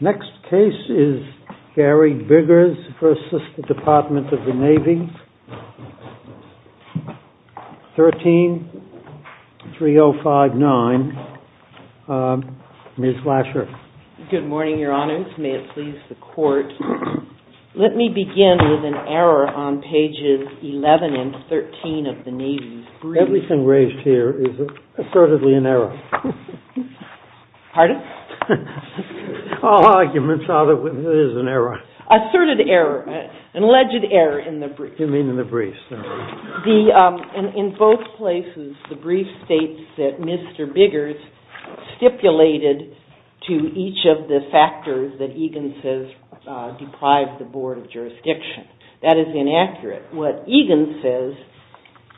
Next case is Gary Biggers versus the Department of the Navy. Page 13, 3059, Ms. Lasher. Good morning, Your Honors, may it please the Court. Let me begin with an error on pages 11 and 13 of the Navy's brief. Everything raised here is assertedly an error. Pardon? All arguments are that it is an error. Asserted error, an alleged error in the brief. You mean in the brief, sorry. In both places, the brief states that Mr. Biggers stipulated to each of the factors that Egan says deprived the Board of Jurisdiction. That is inaccurate. What Egan says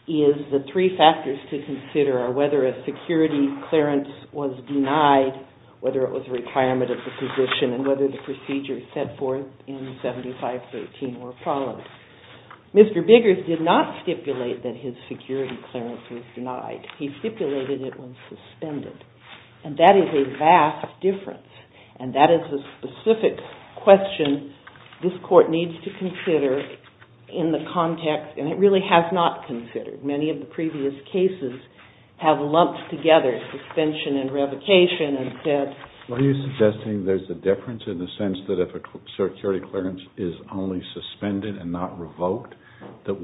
is the three factors to consider are whether a security clearance was denied, whether it was a requirement of the position, and whether the procedures set forth in 7513 were followed. Mr. Biggers did not stipulate that his security clearance was denied. He stipulated it was suspended. And that is a vast difference. And that is a specific question this Court needs to consider in the context, and it really has not considered. Many of the previous cases have lumped together suspension and revocation. Are you suggesting there's a difference in the sense that if a security clearance is only suspended and not revoked, that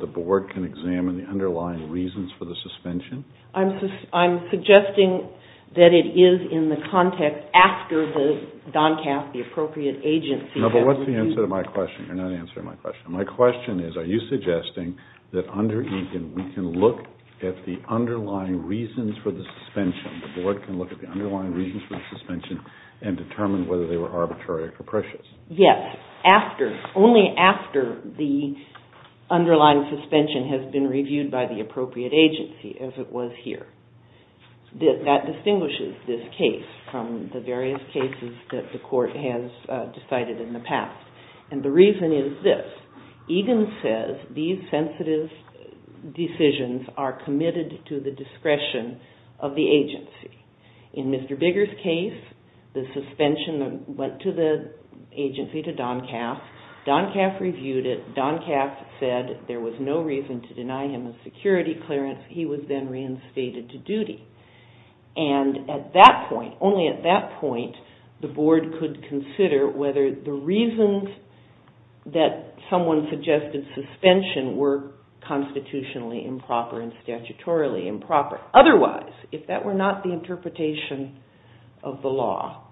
the Board can examine the underlying reasons for the suspension? I'm suggesting that it is in the context after the DONCAS, the appropriate agency, has reviewed. No, but what's the answer to my question? You're not answering my question. My question is, are you suggesting that under Egan we can look at the underlying reasons for the suspension, the Board can look at the underlying reasons for the suspension and determine whether they were arbitrary or capricious? Yes, only after the underlying suspension has been reviewed by the appropriate agency, as it was here. That distinguishes this case from the various cases that the Court has decided in the past. And the reason is this. Egan says these sensitive decisions are committed to the discretion of the agency. In Mr. Bigger's case, the suspension went to the agency, to DONCAS. DONCAS reviewed it. DONCAS said there was no reason to deny him a security clearance. He was then reinstated to duty. And at that point, only at that point, the Board could consider whether the reasons that someone suggested suspension were constitutionally improper and statutorily improper. Otherwise, if that were not the interpretation of the law,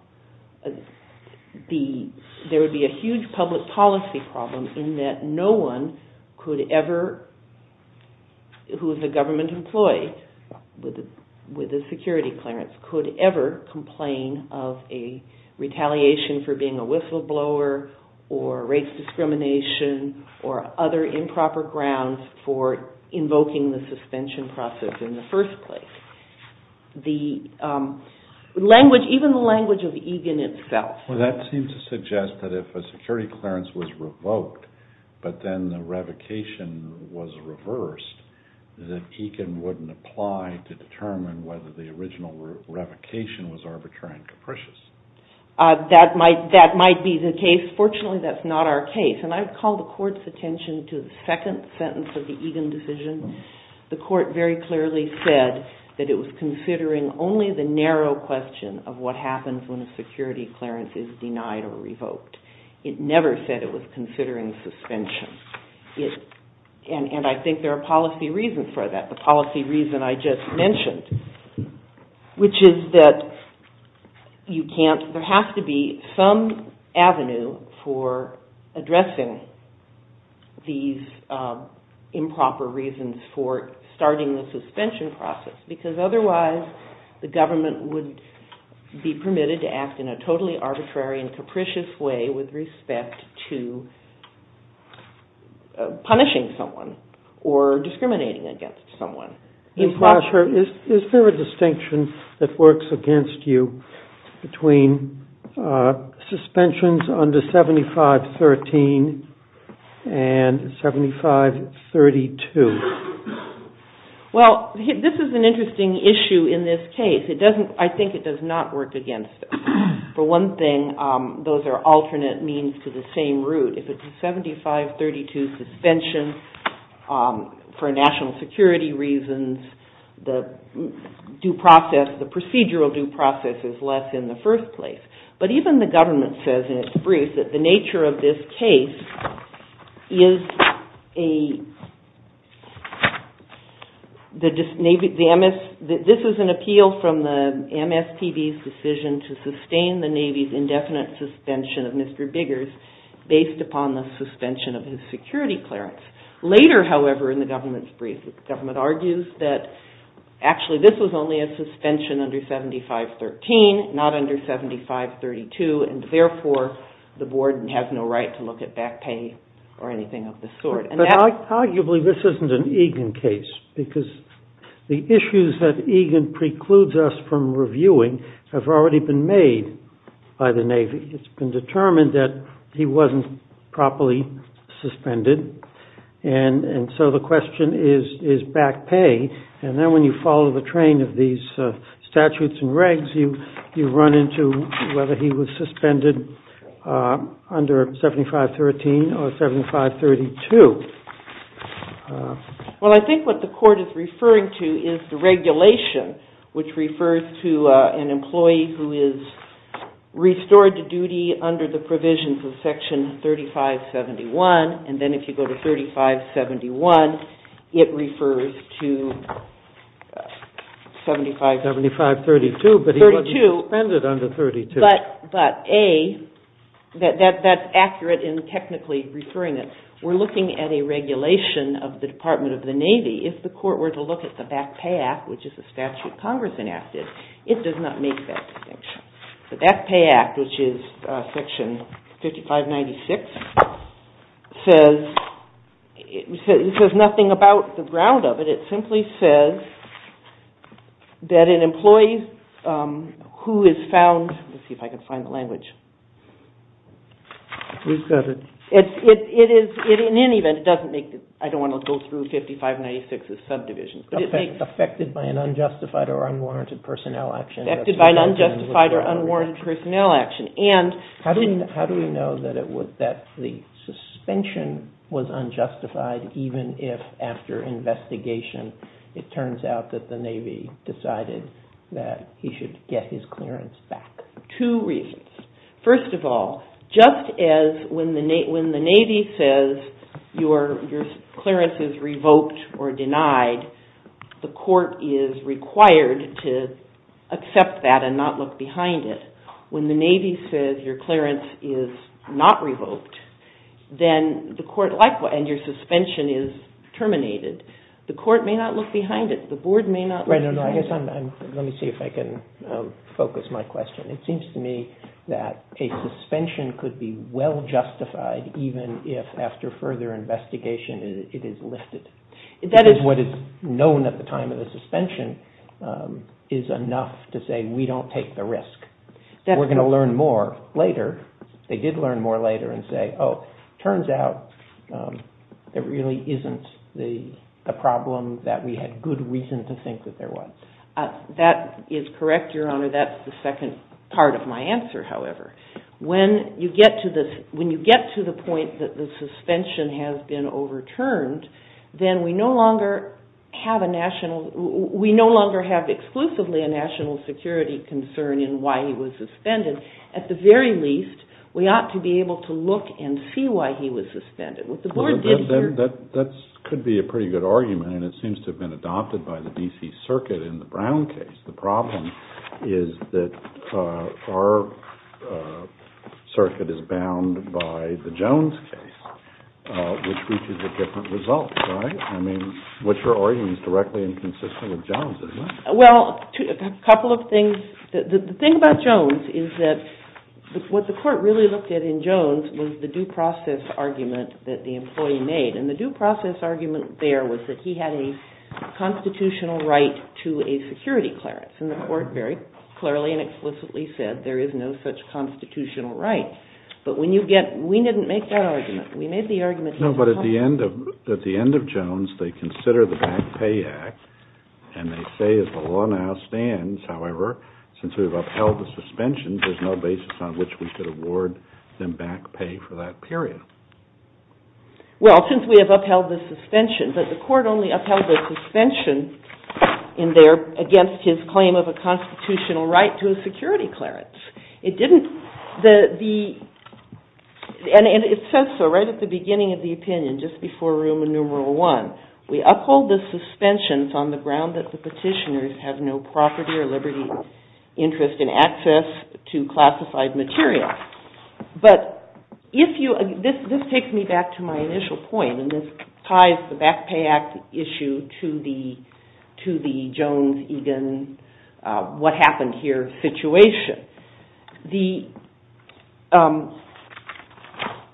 there would be a huge public policy problem in that no one could ever, who is a government employee with a security clearance, could ever complain of a retaliation for being a whistleblower or race discrimination or other improper grounds for invoking the suspension process in the first place. Even the language of Egan itself. Well, that seems to suggest that if a security clearance was revoked, but then the revocation was reversed, that Egan wouldn't apply to determine whether the original revocation was arbitrary and capricious. That might be the case. Fortunately, that's not our case. And I would call the Court's attention to the second sentence of the Egan decision. The Court very clearly said that it was considering only the narrow question of what happens when a security clearance is denied or revoked. It never said it was considering suspension. And I think there are policy reasons for that. The policy reason I just mentioned, which is that you can't, there has to be some avenue for addressing these improper reasons for starting the suspension process, because otherwise the government would be permitted to act in a totally arbitrary and capricious way with respect to punishing someone or discriminating against someone. Is there a distinction that works against you between suspensions under 7513 and 7532? Well, this is an interesting issue in this case. I think it does not work against us. For one thing, those are alternate means to the same root. If it's a 7532 suspension for national security reasons, the procedural due process is less in the first place. But even the government says in its brief that the nature of this case is a, this is an appeal from the MSPB's decision to sustain the Navy's indefinite suspension of Mr. Biggers based upon the suspension of his security clearance. Later, however, in the government's brief, the government argues that actually this was only a suspension under 7513, not under 7532, and therefore the board has no right to look at back pay or anything of the sort. But arguably this isn't an Egan case, because the issues that Egan precludes us from reviewing have already been made by the Navy. It's been determined that he wasn't properly suspended. And so the question is back pay. And then when you follow the train of these statutes and regs, you run into whether he was suspended under 7513 or 7532. Well, I think what the court is referring to is the regulation, which refers to an employee who is restored to duty under the provisions of Section 3571. And then if you go to 3571, it refers to 7532. But he wasn't suspended under 32. But A, that's accurate in technically referring it. We're looking at a regulation of the Department of the Navy. If the court were to look at the Back Pay Act, which is a statute Congress enacted, it does not make that distinction. The Back Pay Act, which is Section 5596, says nothing about the ground of it. It simply says that an employee who is found – let me see if I can find the language. In any event, it doesn't make – I don't want to go through 5596 as subdivisions. Affected by an unjustified or unwarranted personnel action. Affected by an unjustified or unwarranted personnel action. How do we know that the suspension was unjustified, even if after investigation it turns out that the Navy decided that he should get his clearance back? Two reasons. First of all, just as when the Navy says your clearance is revoked or denied, the court is required to accept that and not look behind it. When the Navy says your clearance is not revoked, then the court – and your suspension is terminated. The court may not look behind it. The board may not look behind it. Let me see if I can focus my question. It seems to me that a suspension could be well justified even if after further investigation it is lifted. That is what is known at the time of the suspension is enough to say we don't take the risk. We're going to learn more later. They did learn more later and say, oh, turns out there really isn't the problem that we had good reason to think that there was. That is correct, Your Honor. That's the second part of my answer, however. When you get to the point that the suspension has been overturned, then we no longer have exclusively a national security concern in why he was suspended. At the very least, we ought to be able to look and see why he was suspended. That could be a pretty good argument, and it seems to have been adopted by the D.C. Circuit in the Brown case. The problem is that our circuit is bound by the Jones case, which reaches a different result, right? I mean, what your argument is directly inconsistent with Jones, isn't it? Well, a couple of things. The thing about Jones is that what the court really looked at in Jones was the due process argument that the employee made. The due process argument there was that he had a constitutional right to a security clearance, and the court very clearly and explicitly said there is no such constitutional right. But we didn't make that argument. No, but at the end of Jones, they consider the Bank Pay Act, and they say as the law now stands, however, since we've upheld the suspension, there's no basis on which we could award them back pay for that period. Well, since we have upheld the suspension, but the court only upheld the suspension in there against his claim of a constitutional right to a security clearance. It didn't, the, and it says so right at the beginning of the opinion, just before room and numeral one. We uphold the suspension on the ground that the petitioners have no property or liberty interest in access to classified material. But if you, this takes me back to my initial point, and this ties the Bank Pay Act issue to the Jones, Egan, what happened here situation. The,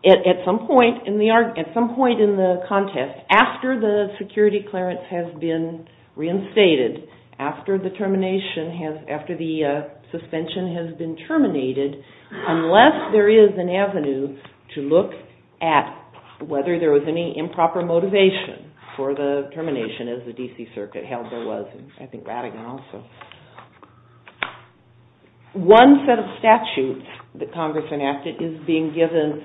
at some point in the contest, after the security clearance has been reinstated, after the termination has, after the suspension has been terminated, unless there is an avenue to look at whether there was any improper motivation for the termination as the D.C. Circuit held there was, I think Rattigan also. One set of statutes that Congress enacted is being given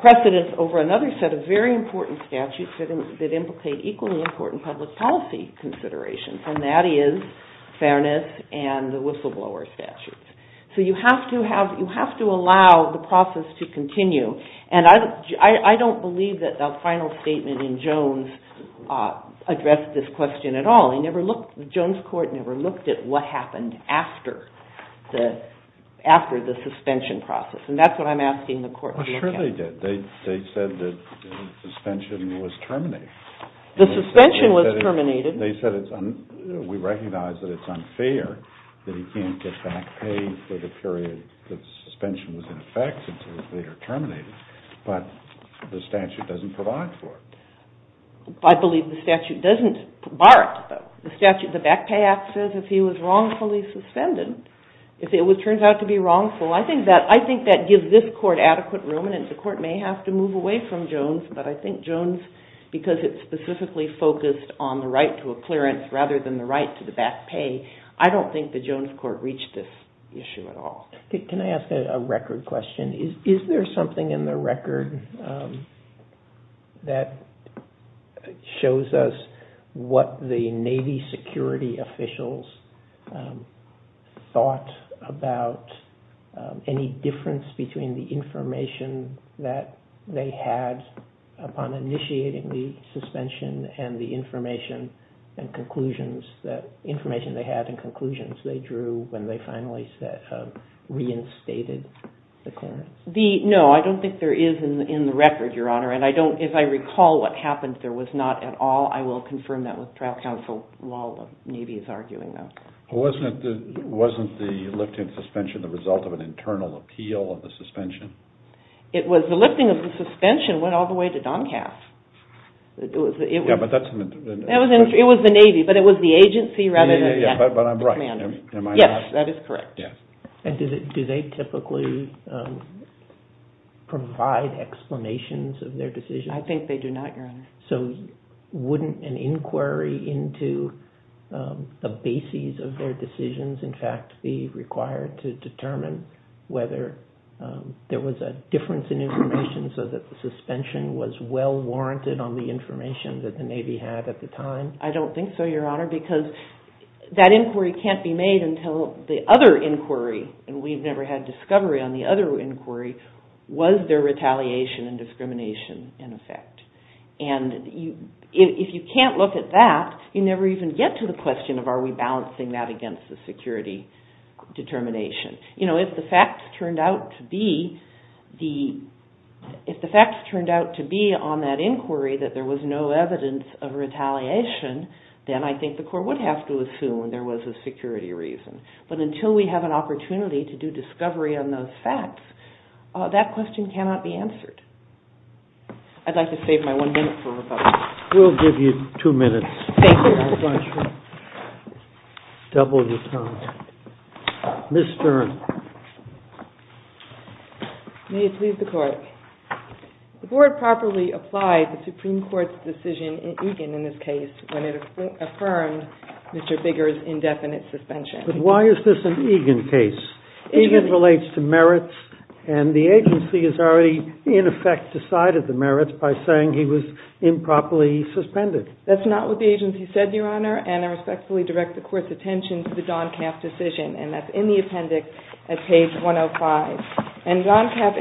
precedence over another set of very important statutes that implicate equally important public policy considerations, and that is fairness and the whistleblower statutes. So you have to have, you have to allow the process to continue, and I don't believe that the final statement in Jones addressed this question at all. I never looked, the Jones court never looked at what happened after the suspension process, and that's what I'm asking the court to be accountable for. Well, sure they did. They said that the suspension was terminated. The suspension was terminated. They said it's, we recognize that it's unfair that he can't get back pay for the period that the suspension was in effect until it's later terminated, but the statute doesn't provide for it. I believe the statute doesn't bar it, though. The statute, the back pay act says if he was wrongfully suspended, if it turns out to be wrongful, I think that gives this court adequate room, and the court may have to move away from Jones, but I think Jones, because it specifically focused on the right to a clearance rather than the right to the back pay, I don't think the Jones court reached this issue at all. Can I ask a record question? Is there something in the record that shows us what the Navy security officials thought about any difference between the information that they had upon initiating the suspension and the information and conclusions that, information they had The, no, I don't think there is in the record, Your Honor, and I don't, if I recall what happened, there was not at all, I will confirm that with trial counsel while the Navy is arguing that. Wasn't the lifting of suspension the result of an internal appeal of the suspension? It was, the lifting of the suspension went all the way to Doncaster. It was the Navy, but it was the agency rather than the commander. Yes, that is correct. And do they typically provide explanations of their decisions? I think they do not, Your Honor. So wouldn't an inquiry into the bases of their decisions, in fact, be required to determine whether there was a difference in information so that the suspension was well warranted on the information that the Navy had at the time? I don't think so, Your Honor, because that inquiry can't be made until the other inquiry, and we've never had discovery on the other inquiry, was there retaliation and discrimination in effect? And if you can't look at that, you never even get to the question of are we balancing that against the security determination? You know, if the facts turned out to be on that inquiry that there was no evidence of retaliation, then I think the court would have to assume there was a security reason. But until we have an opportunity to do discovery on those facts, that question cannot be answered. I'd like to save my one minute for Republicans. We'll give you two minutes. Thank you. Ms. Stern. May it please the Court. The Board properly applied the Supreme Court's decision in Egan in this case when it affirmed Mr. Bigger's indefinite suspension. But why is this an Egan case? Egan relates to merits, and the agency has already, in effect, decided the merits by saying he was improperly suspended. That's not what the agency said, Your Honor, and I respectfully direct the Court's attention to the Doncaf decision, and that's in the appendix at page 105. And Doncaf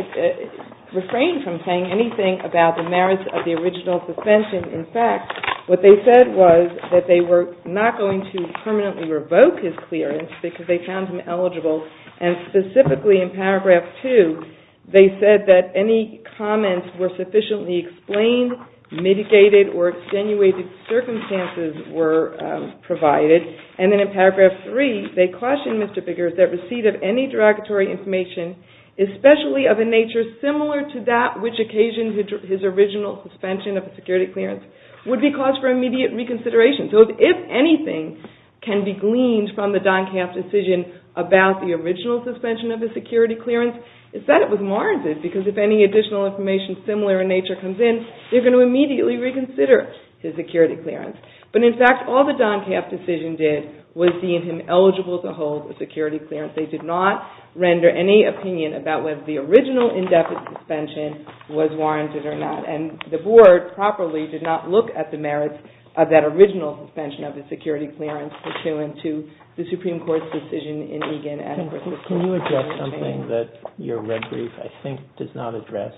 refrained from saying anything about the merits of the original suspension. In fact, what they said was that they were not going to permanently revoke his clearance because they found him eligible, and specifically in paragraph 2, they said that any comments were sufficiently explained, mitigated, or extenuated circumstances were provided. And then in paragraph 3, they cautioned Mr. Bigger that receipt of any derogatory information, especially of a nature similar to that which occasioned his original suspension of a security clearance, would be cause for immediate reconsideration. So if anything can be gleaned from the Doncaf decision about the original suspension of a security clearance, it's that it was warranted because if any additional information similar in nature comes in, they're going to immediately reconsider his security clearance. But in fact, all the Doncaf decision did was see him eligible to hold a security clearance. They did not render any opinion about whether the original indefinite suspension was warranted or not, and the Board properly did not look at the merits of that original suspension of a security clearance pursuant to the Supreme Court's decision in Egan and versus King. Can you address something that your red brief, I think, does not address?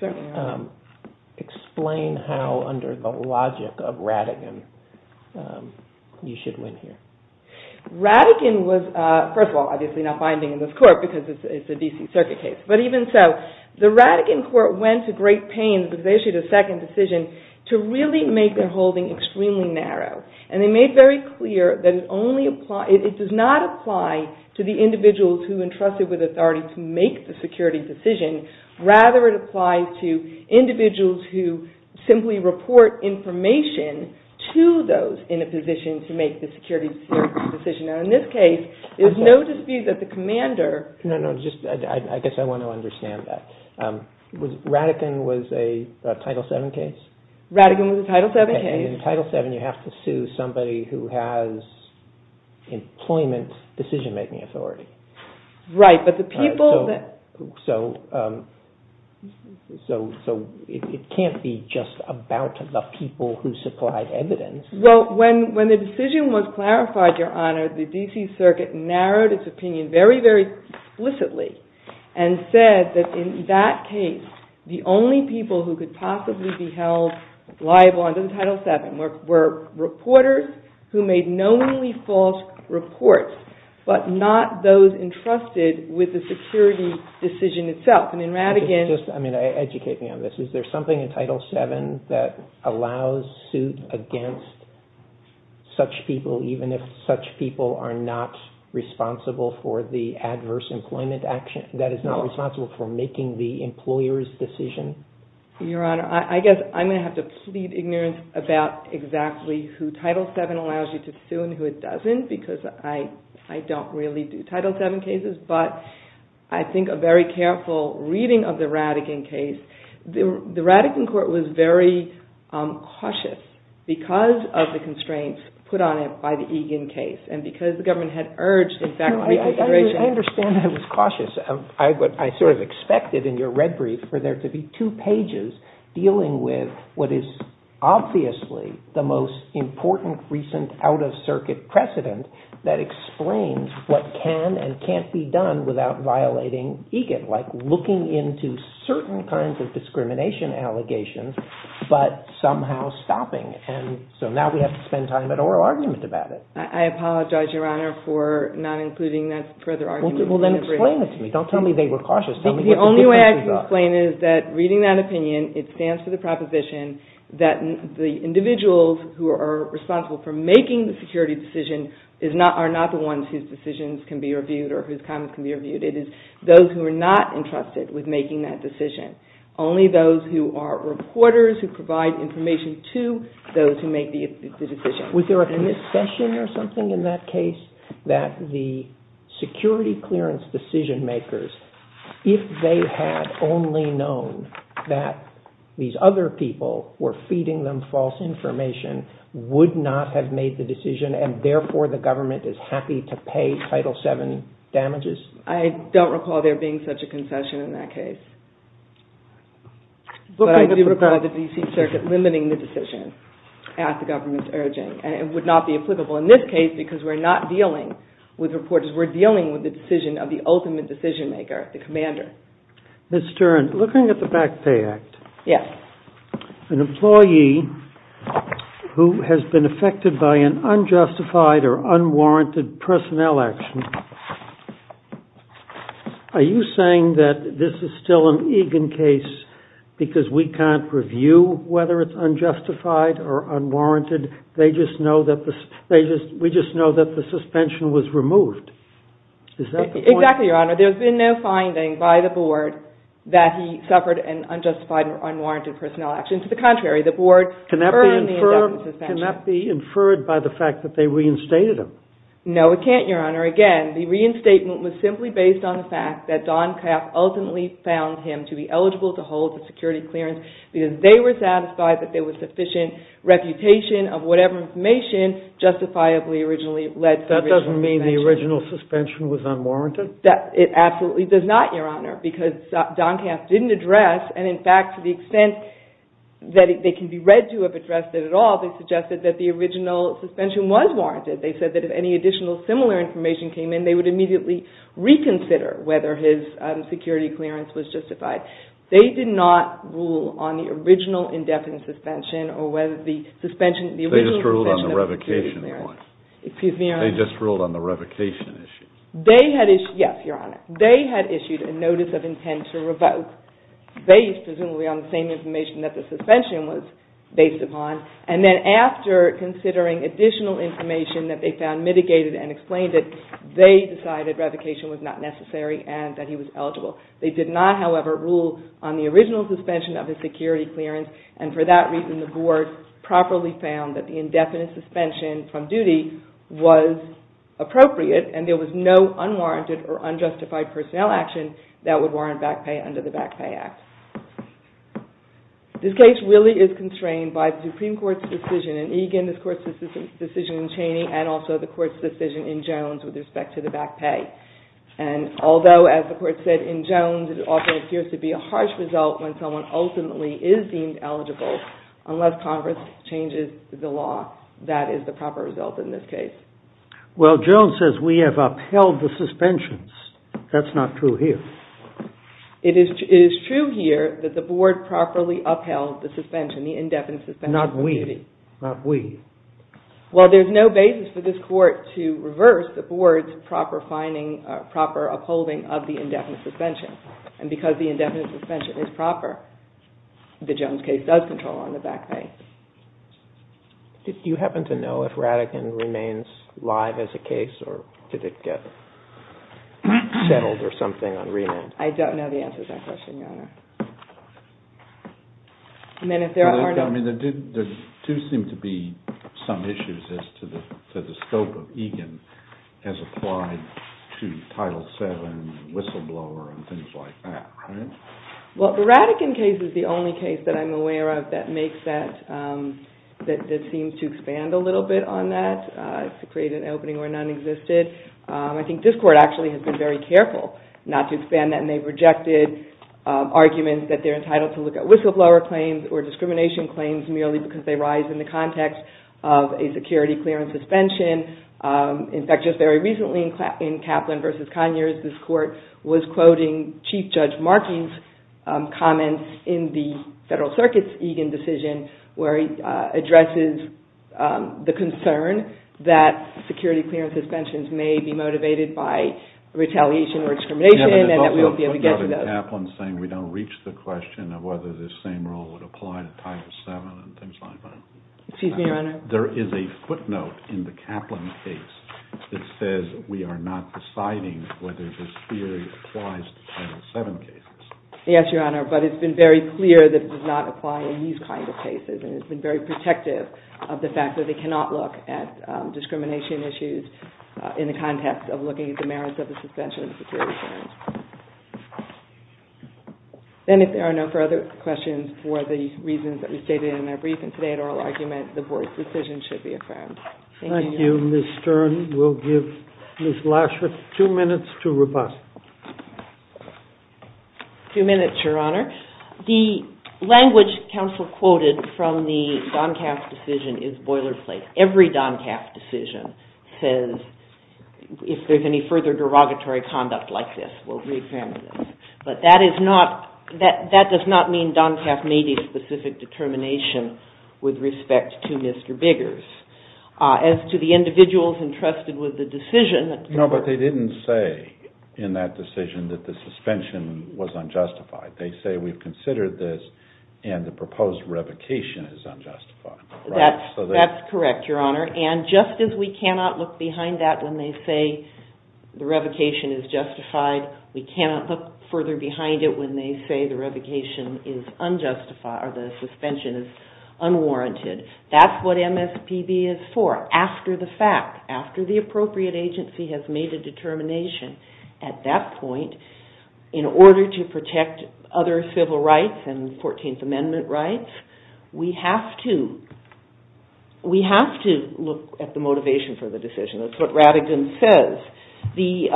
Certainly not. Explain how, under the logic of Rattigan, you should win here. Rattigan was, first of all, obviously not binding in this Court because it's a D.C. Circuit case. But even so, the Rattigan Court went to great pains, because they issued a second decision, to really make their holding extremely narrow. And they made very clear that it does not apply to the individuals who entrusted with authority to make the security decision. Rather, it applies to individuals who simply report information to those in a position to make the security decision. And in this case, there's no dispute that the commander... No, no, I guess I want to understand that. Rattigan was a Title VII case? Rattigan was a Title VII case. And in Title VII, you have to sue somebody who has employment decision-making authority. Right, but the people that... So, it can't be just about the people who supplied evidence. Well, when the decision was clarified, Your Honor, the D.C. Circuit narrowed its opinion very, very explicitly, and said that in that case, the only people who could possibly be held liable under Title VII were reporters who made knowingly false reports, but not those entrusted with the security decision itself. And in Rattigan... Just, I mean, educate me on this. Is there something in Title VII that allows suit against such people, even if such people are not responsible for the adverse employment action, that is not responsible for making the employer's decision? Your Honor, I guess I'm going to have to plead ignorance about exactly who Title VII allows you to sue and who it doesn't, because I don't really do Title VII cases. But I think a very careful reading of the Rattigan case, the Rattigan court was very cautious because of the constraints put on it by the Egan case. And because the government had urged, in fact, reconsideration... I understand that it was cautious. I sort of expected in your red brief for there to be two pages dealing with what is obviously the most important recent out-of-circuit precedent that explains what can and can't be done without violating Egan, like looking into certain kinds of discrimination allegations, but somehow stopping it. And so now we have to spend time at oral argument about it. I apologize, Your Honor, for not including that further argument. Well, then explain it to me. Don't tell me they were cautious. The only way I can explain it is that reading that opinion, it stands for the proposition that the individuals who are responsible for making the security decision are not the ones whose decisions can be reviewed or whose comments can be reviewed. It is those who are not entrusted with making that decision, only those who are reporters who provide information to those who make the decision. Was there a concession or something in that case that the security clearance decision makers, if they had only known that these other people were feeding them false information, would not have made the decision, and therefore the government is happy to pay Title VII damages? I don't recall there being such a concession in that case. But I do recall the D.C. Circuit limiting the decision at the government's urging. It would not be applicable in this case because we're not dealing with reporters. We're dealing with the decision of the ultimate decision maker, the commander. Ms. Stern, looking at the Back Pay Act, an employee who has been affected by an unjustified or unwarranted personnel action, are you saying that this is still an Egan case because we can't review whether it's unjustified or unwarranted? We just know that the suspension was removed. Is that the point? Exactly, Your Honor. There's been no finding by the board that he suffered an unjustified or unwarranted personnel action. To the contrary, the board confirmed the suspension. Can that be inferred by the fact that they reinstated him? No, it can't, Your Honor. Again, the reinstatement was simply based on the fact that Don Kauff ultimately found him to be eligible to hold the security clearance because they were satisfied that there was sufficient reputation of whatever information justifiably originally led to the suspension. That doesn't mean the original suspension was unwarranted? It absolutely does not, Your Honor, because Don Kauff didn't address, and in fact to the extent that they can be read to have addressed it at all, they suggested that the original suspension was warranted. They said that if any additional similar information came in, they would immediately reconsider whether his security clearance was justified. They did not rule on the original indefinite suspension or whether the suspension, the original suspension of the security clearance. They just ruled on the revocation point? Excuse me, Your Honor. They just ruled on the revocation issue? They had issued, yes, Your Honor. They had issued a notice of intent to revoke based presumably on the same information that the suspension was based upon, and then after considering additional information that they found mitigated and explained it, they decided revocation was not necessary and that he was eligible. They did not, however, rule on the original suspension of his security clearance, and for that reason the Board properly found that the indefinite suspension from duty was appropriate and there was no unwarranted or unjustified personnel action that would warrant back pay under the Back Pay Act. This case really is constrained by the Supreme Court's decision in Egan, this Court's decision in Cheney, and also the Court's decision in Jones with respect to the back pay. And although, as the Court said in Jones, it often appears to be a harsh result when someone ultimately is deemed eligible, unless Congress changes the law, that is the proper result in this case. Well, Jones says we have upheld the suspensions. That's not true here. It is true here that the Board properly upheld the suspension, the indefinite suspension from duty. Not we. Not we. Well, there's no basis for this Court to reverse the Board's proper finding, proper upholding of the indefinite suspension, and because the indefinite suspension is proper, the Jones case does control on the back pay. Do you happen to know if Rattigan remains live as a case or did it get settled or something on remand? I don't know the answer to that question, Your Honor. I mean, there do seem to be some issues as to the scope of Egan as applied to Title VII, whistleblower, and things like that, right? Well, the Rattigan case is the only case that I'm aware of that makes that, that seems to expand a little bit on that, to create an opening where none existed. I think this Court actually has been very careful not to expand that, and they rejected arguments that they're entitled to look at whistleblower claims or discrimination claims merely because they rise in the context of a security clearance suspension. In fact, just very recently in Kaplan v. Conyers, this Court was quoting Chief Judge Markey's comments in the Federal Circuit's Egan decision where he addresses the concern that security clearance suspensions may be motivated by retaliation or discrimination and that we won't be able to get to those. Yeah, but there's also a footnote in Kaplan saying we don't reach the question of whether this same rule would apply to Title VII and things like that. Excuse me, Your Honor. There is a footnote in the Kaplan case that says we are not deciding whether this theory applies to Title VII cases. Yes, Your Honor, but it's been very clear that it does not apply in these kind of cases, and it's been very protective of the fact that they cannot look at discrimination issues in the context of looking at the merits of the suspension of security clearance. And if there are no further questions for the reasons that we stated in our brief and today's oral argument, the Board's decision should be affirmed. Thank you. Thank you, Ms. Stern. We'll give Ms. Lashworth two minutes to repose. Two minutes, Your Honor. The language counsel quoted from the Doncaf decision is boilerplate. Every Doncaf decision says if there's any further derogatory conduct like this, we'll re-examine it. But that does not mean Doncaf made a specific determination with respect to Mr. Biggers. As to the individuals entrusted with the decision... No, but they didn't say in that decision that the suspension was unjustified. They say we've considered this, and the proposed revocation is unjustified. That's correct, Your Honor. And just as we cannot look behind that when they say the revocation is justified, we cannot look further behind it when they say the suspension is unwarranted. That's what MSPB is for. After the fact, after the appropriate agency has made a determination at that point, in order to protect other civil rights and 14th Amendment rights, we have to look at the motivation for the decision. That's what Rattigan says. The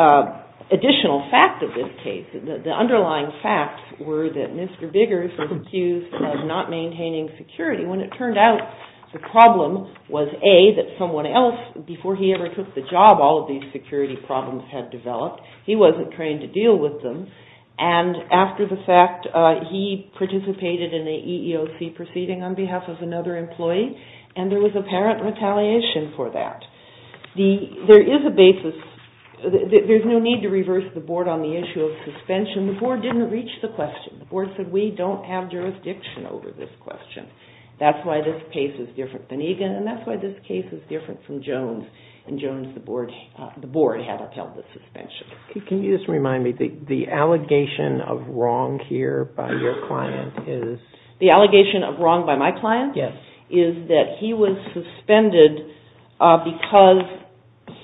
additional fact of this case, the underlying facts, were that Mr. Biggers was accused of not maintaining security when it turned out the problem was, A, that someone else, before he ever took the job, all of these security problems had developed. He wasn't trained to deal with them. After the fact, he participated in an EEOC proceeding on behalf of another employee, and there was apparent retaliation for that. There is a basis. There's no need to reverse the Board on the issue of suspension. The Board didn't reach the question. The Board said we don't have jurisdiction over this question. That's why this case is different than Egan, and that's why this case is different from Jones. In Jones, the Board had upheld the suspension. Can you just remind me, the allegation of wrong here by your client is? The allegation of wrong by my client is that he was suspended because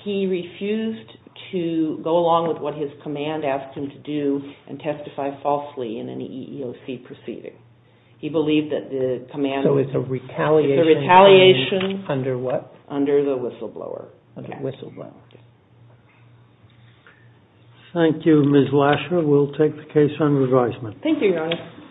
he refused to go along with what his command asked him to do and testify falsely in an EEOC proceeding. He believed that the command was a retaliation under the whistleblower. Thank you, Ms. Lasher. We'll take the case under advisement.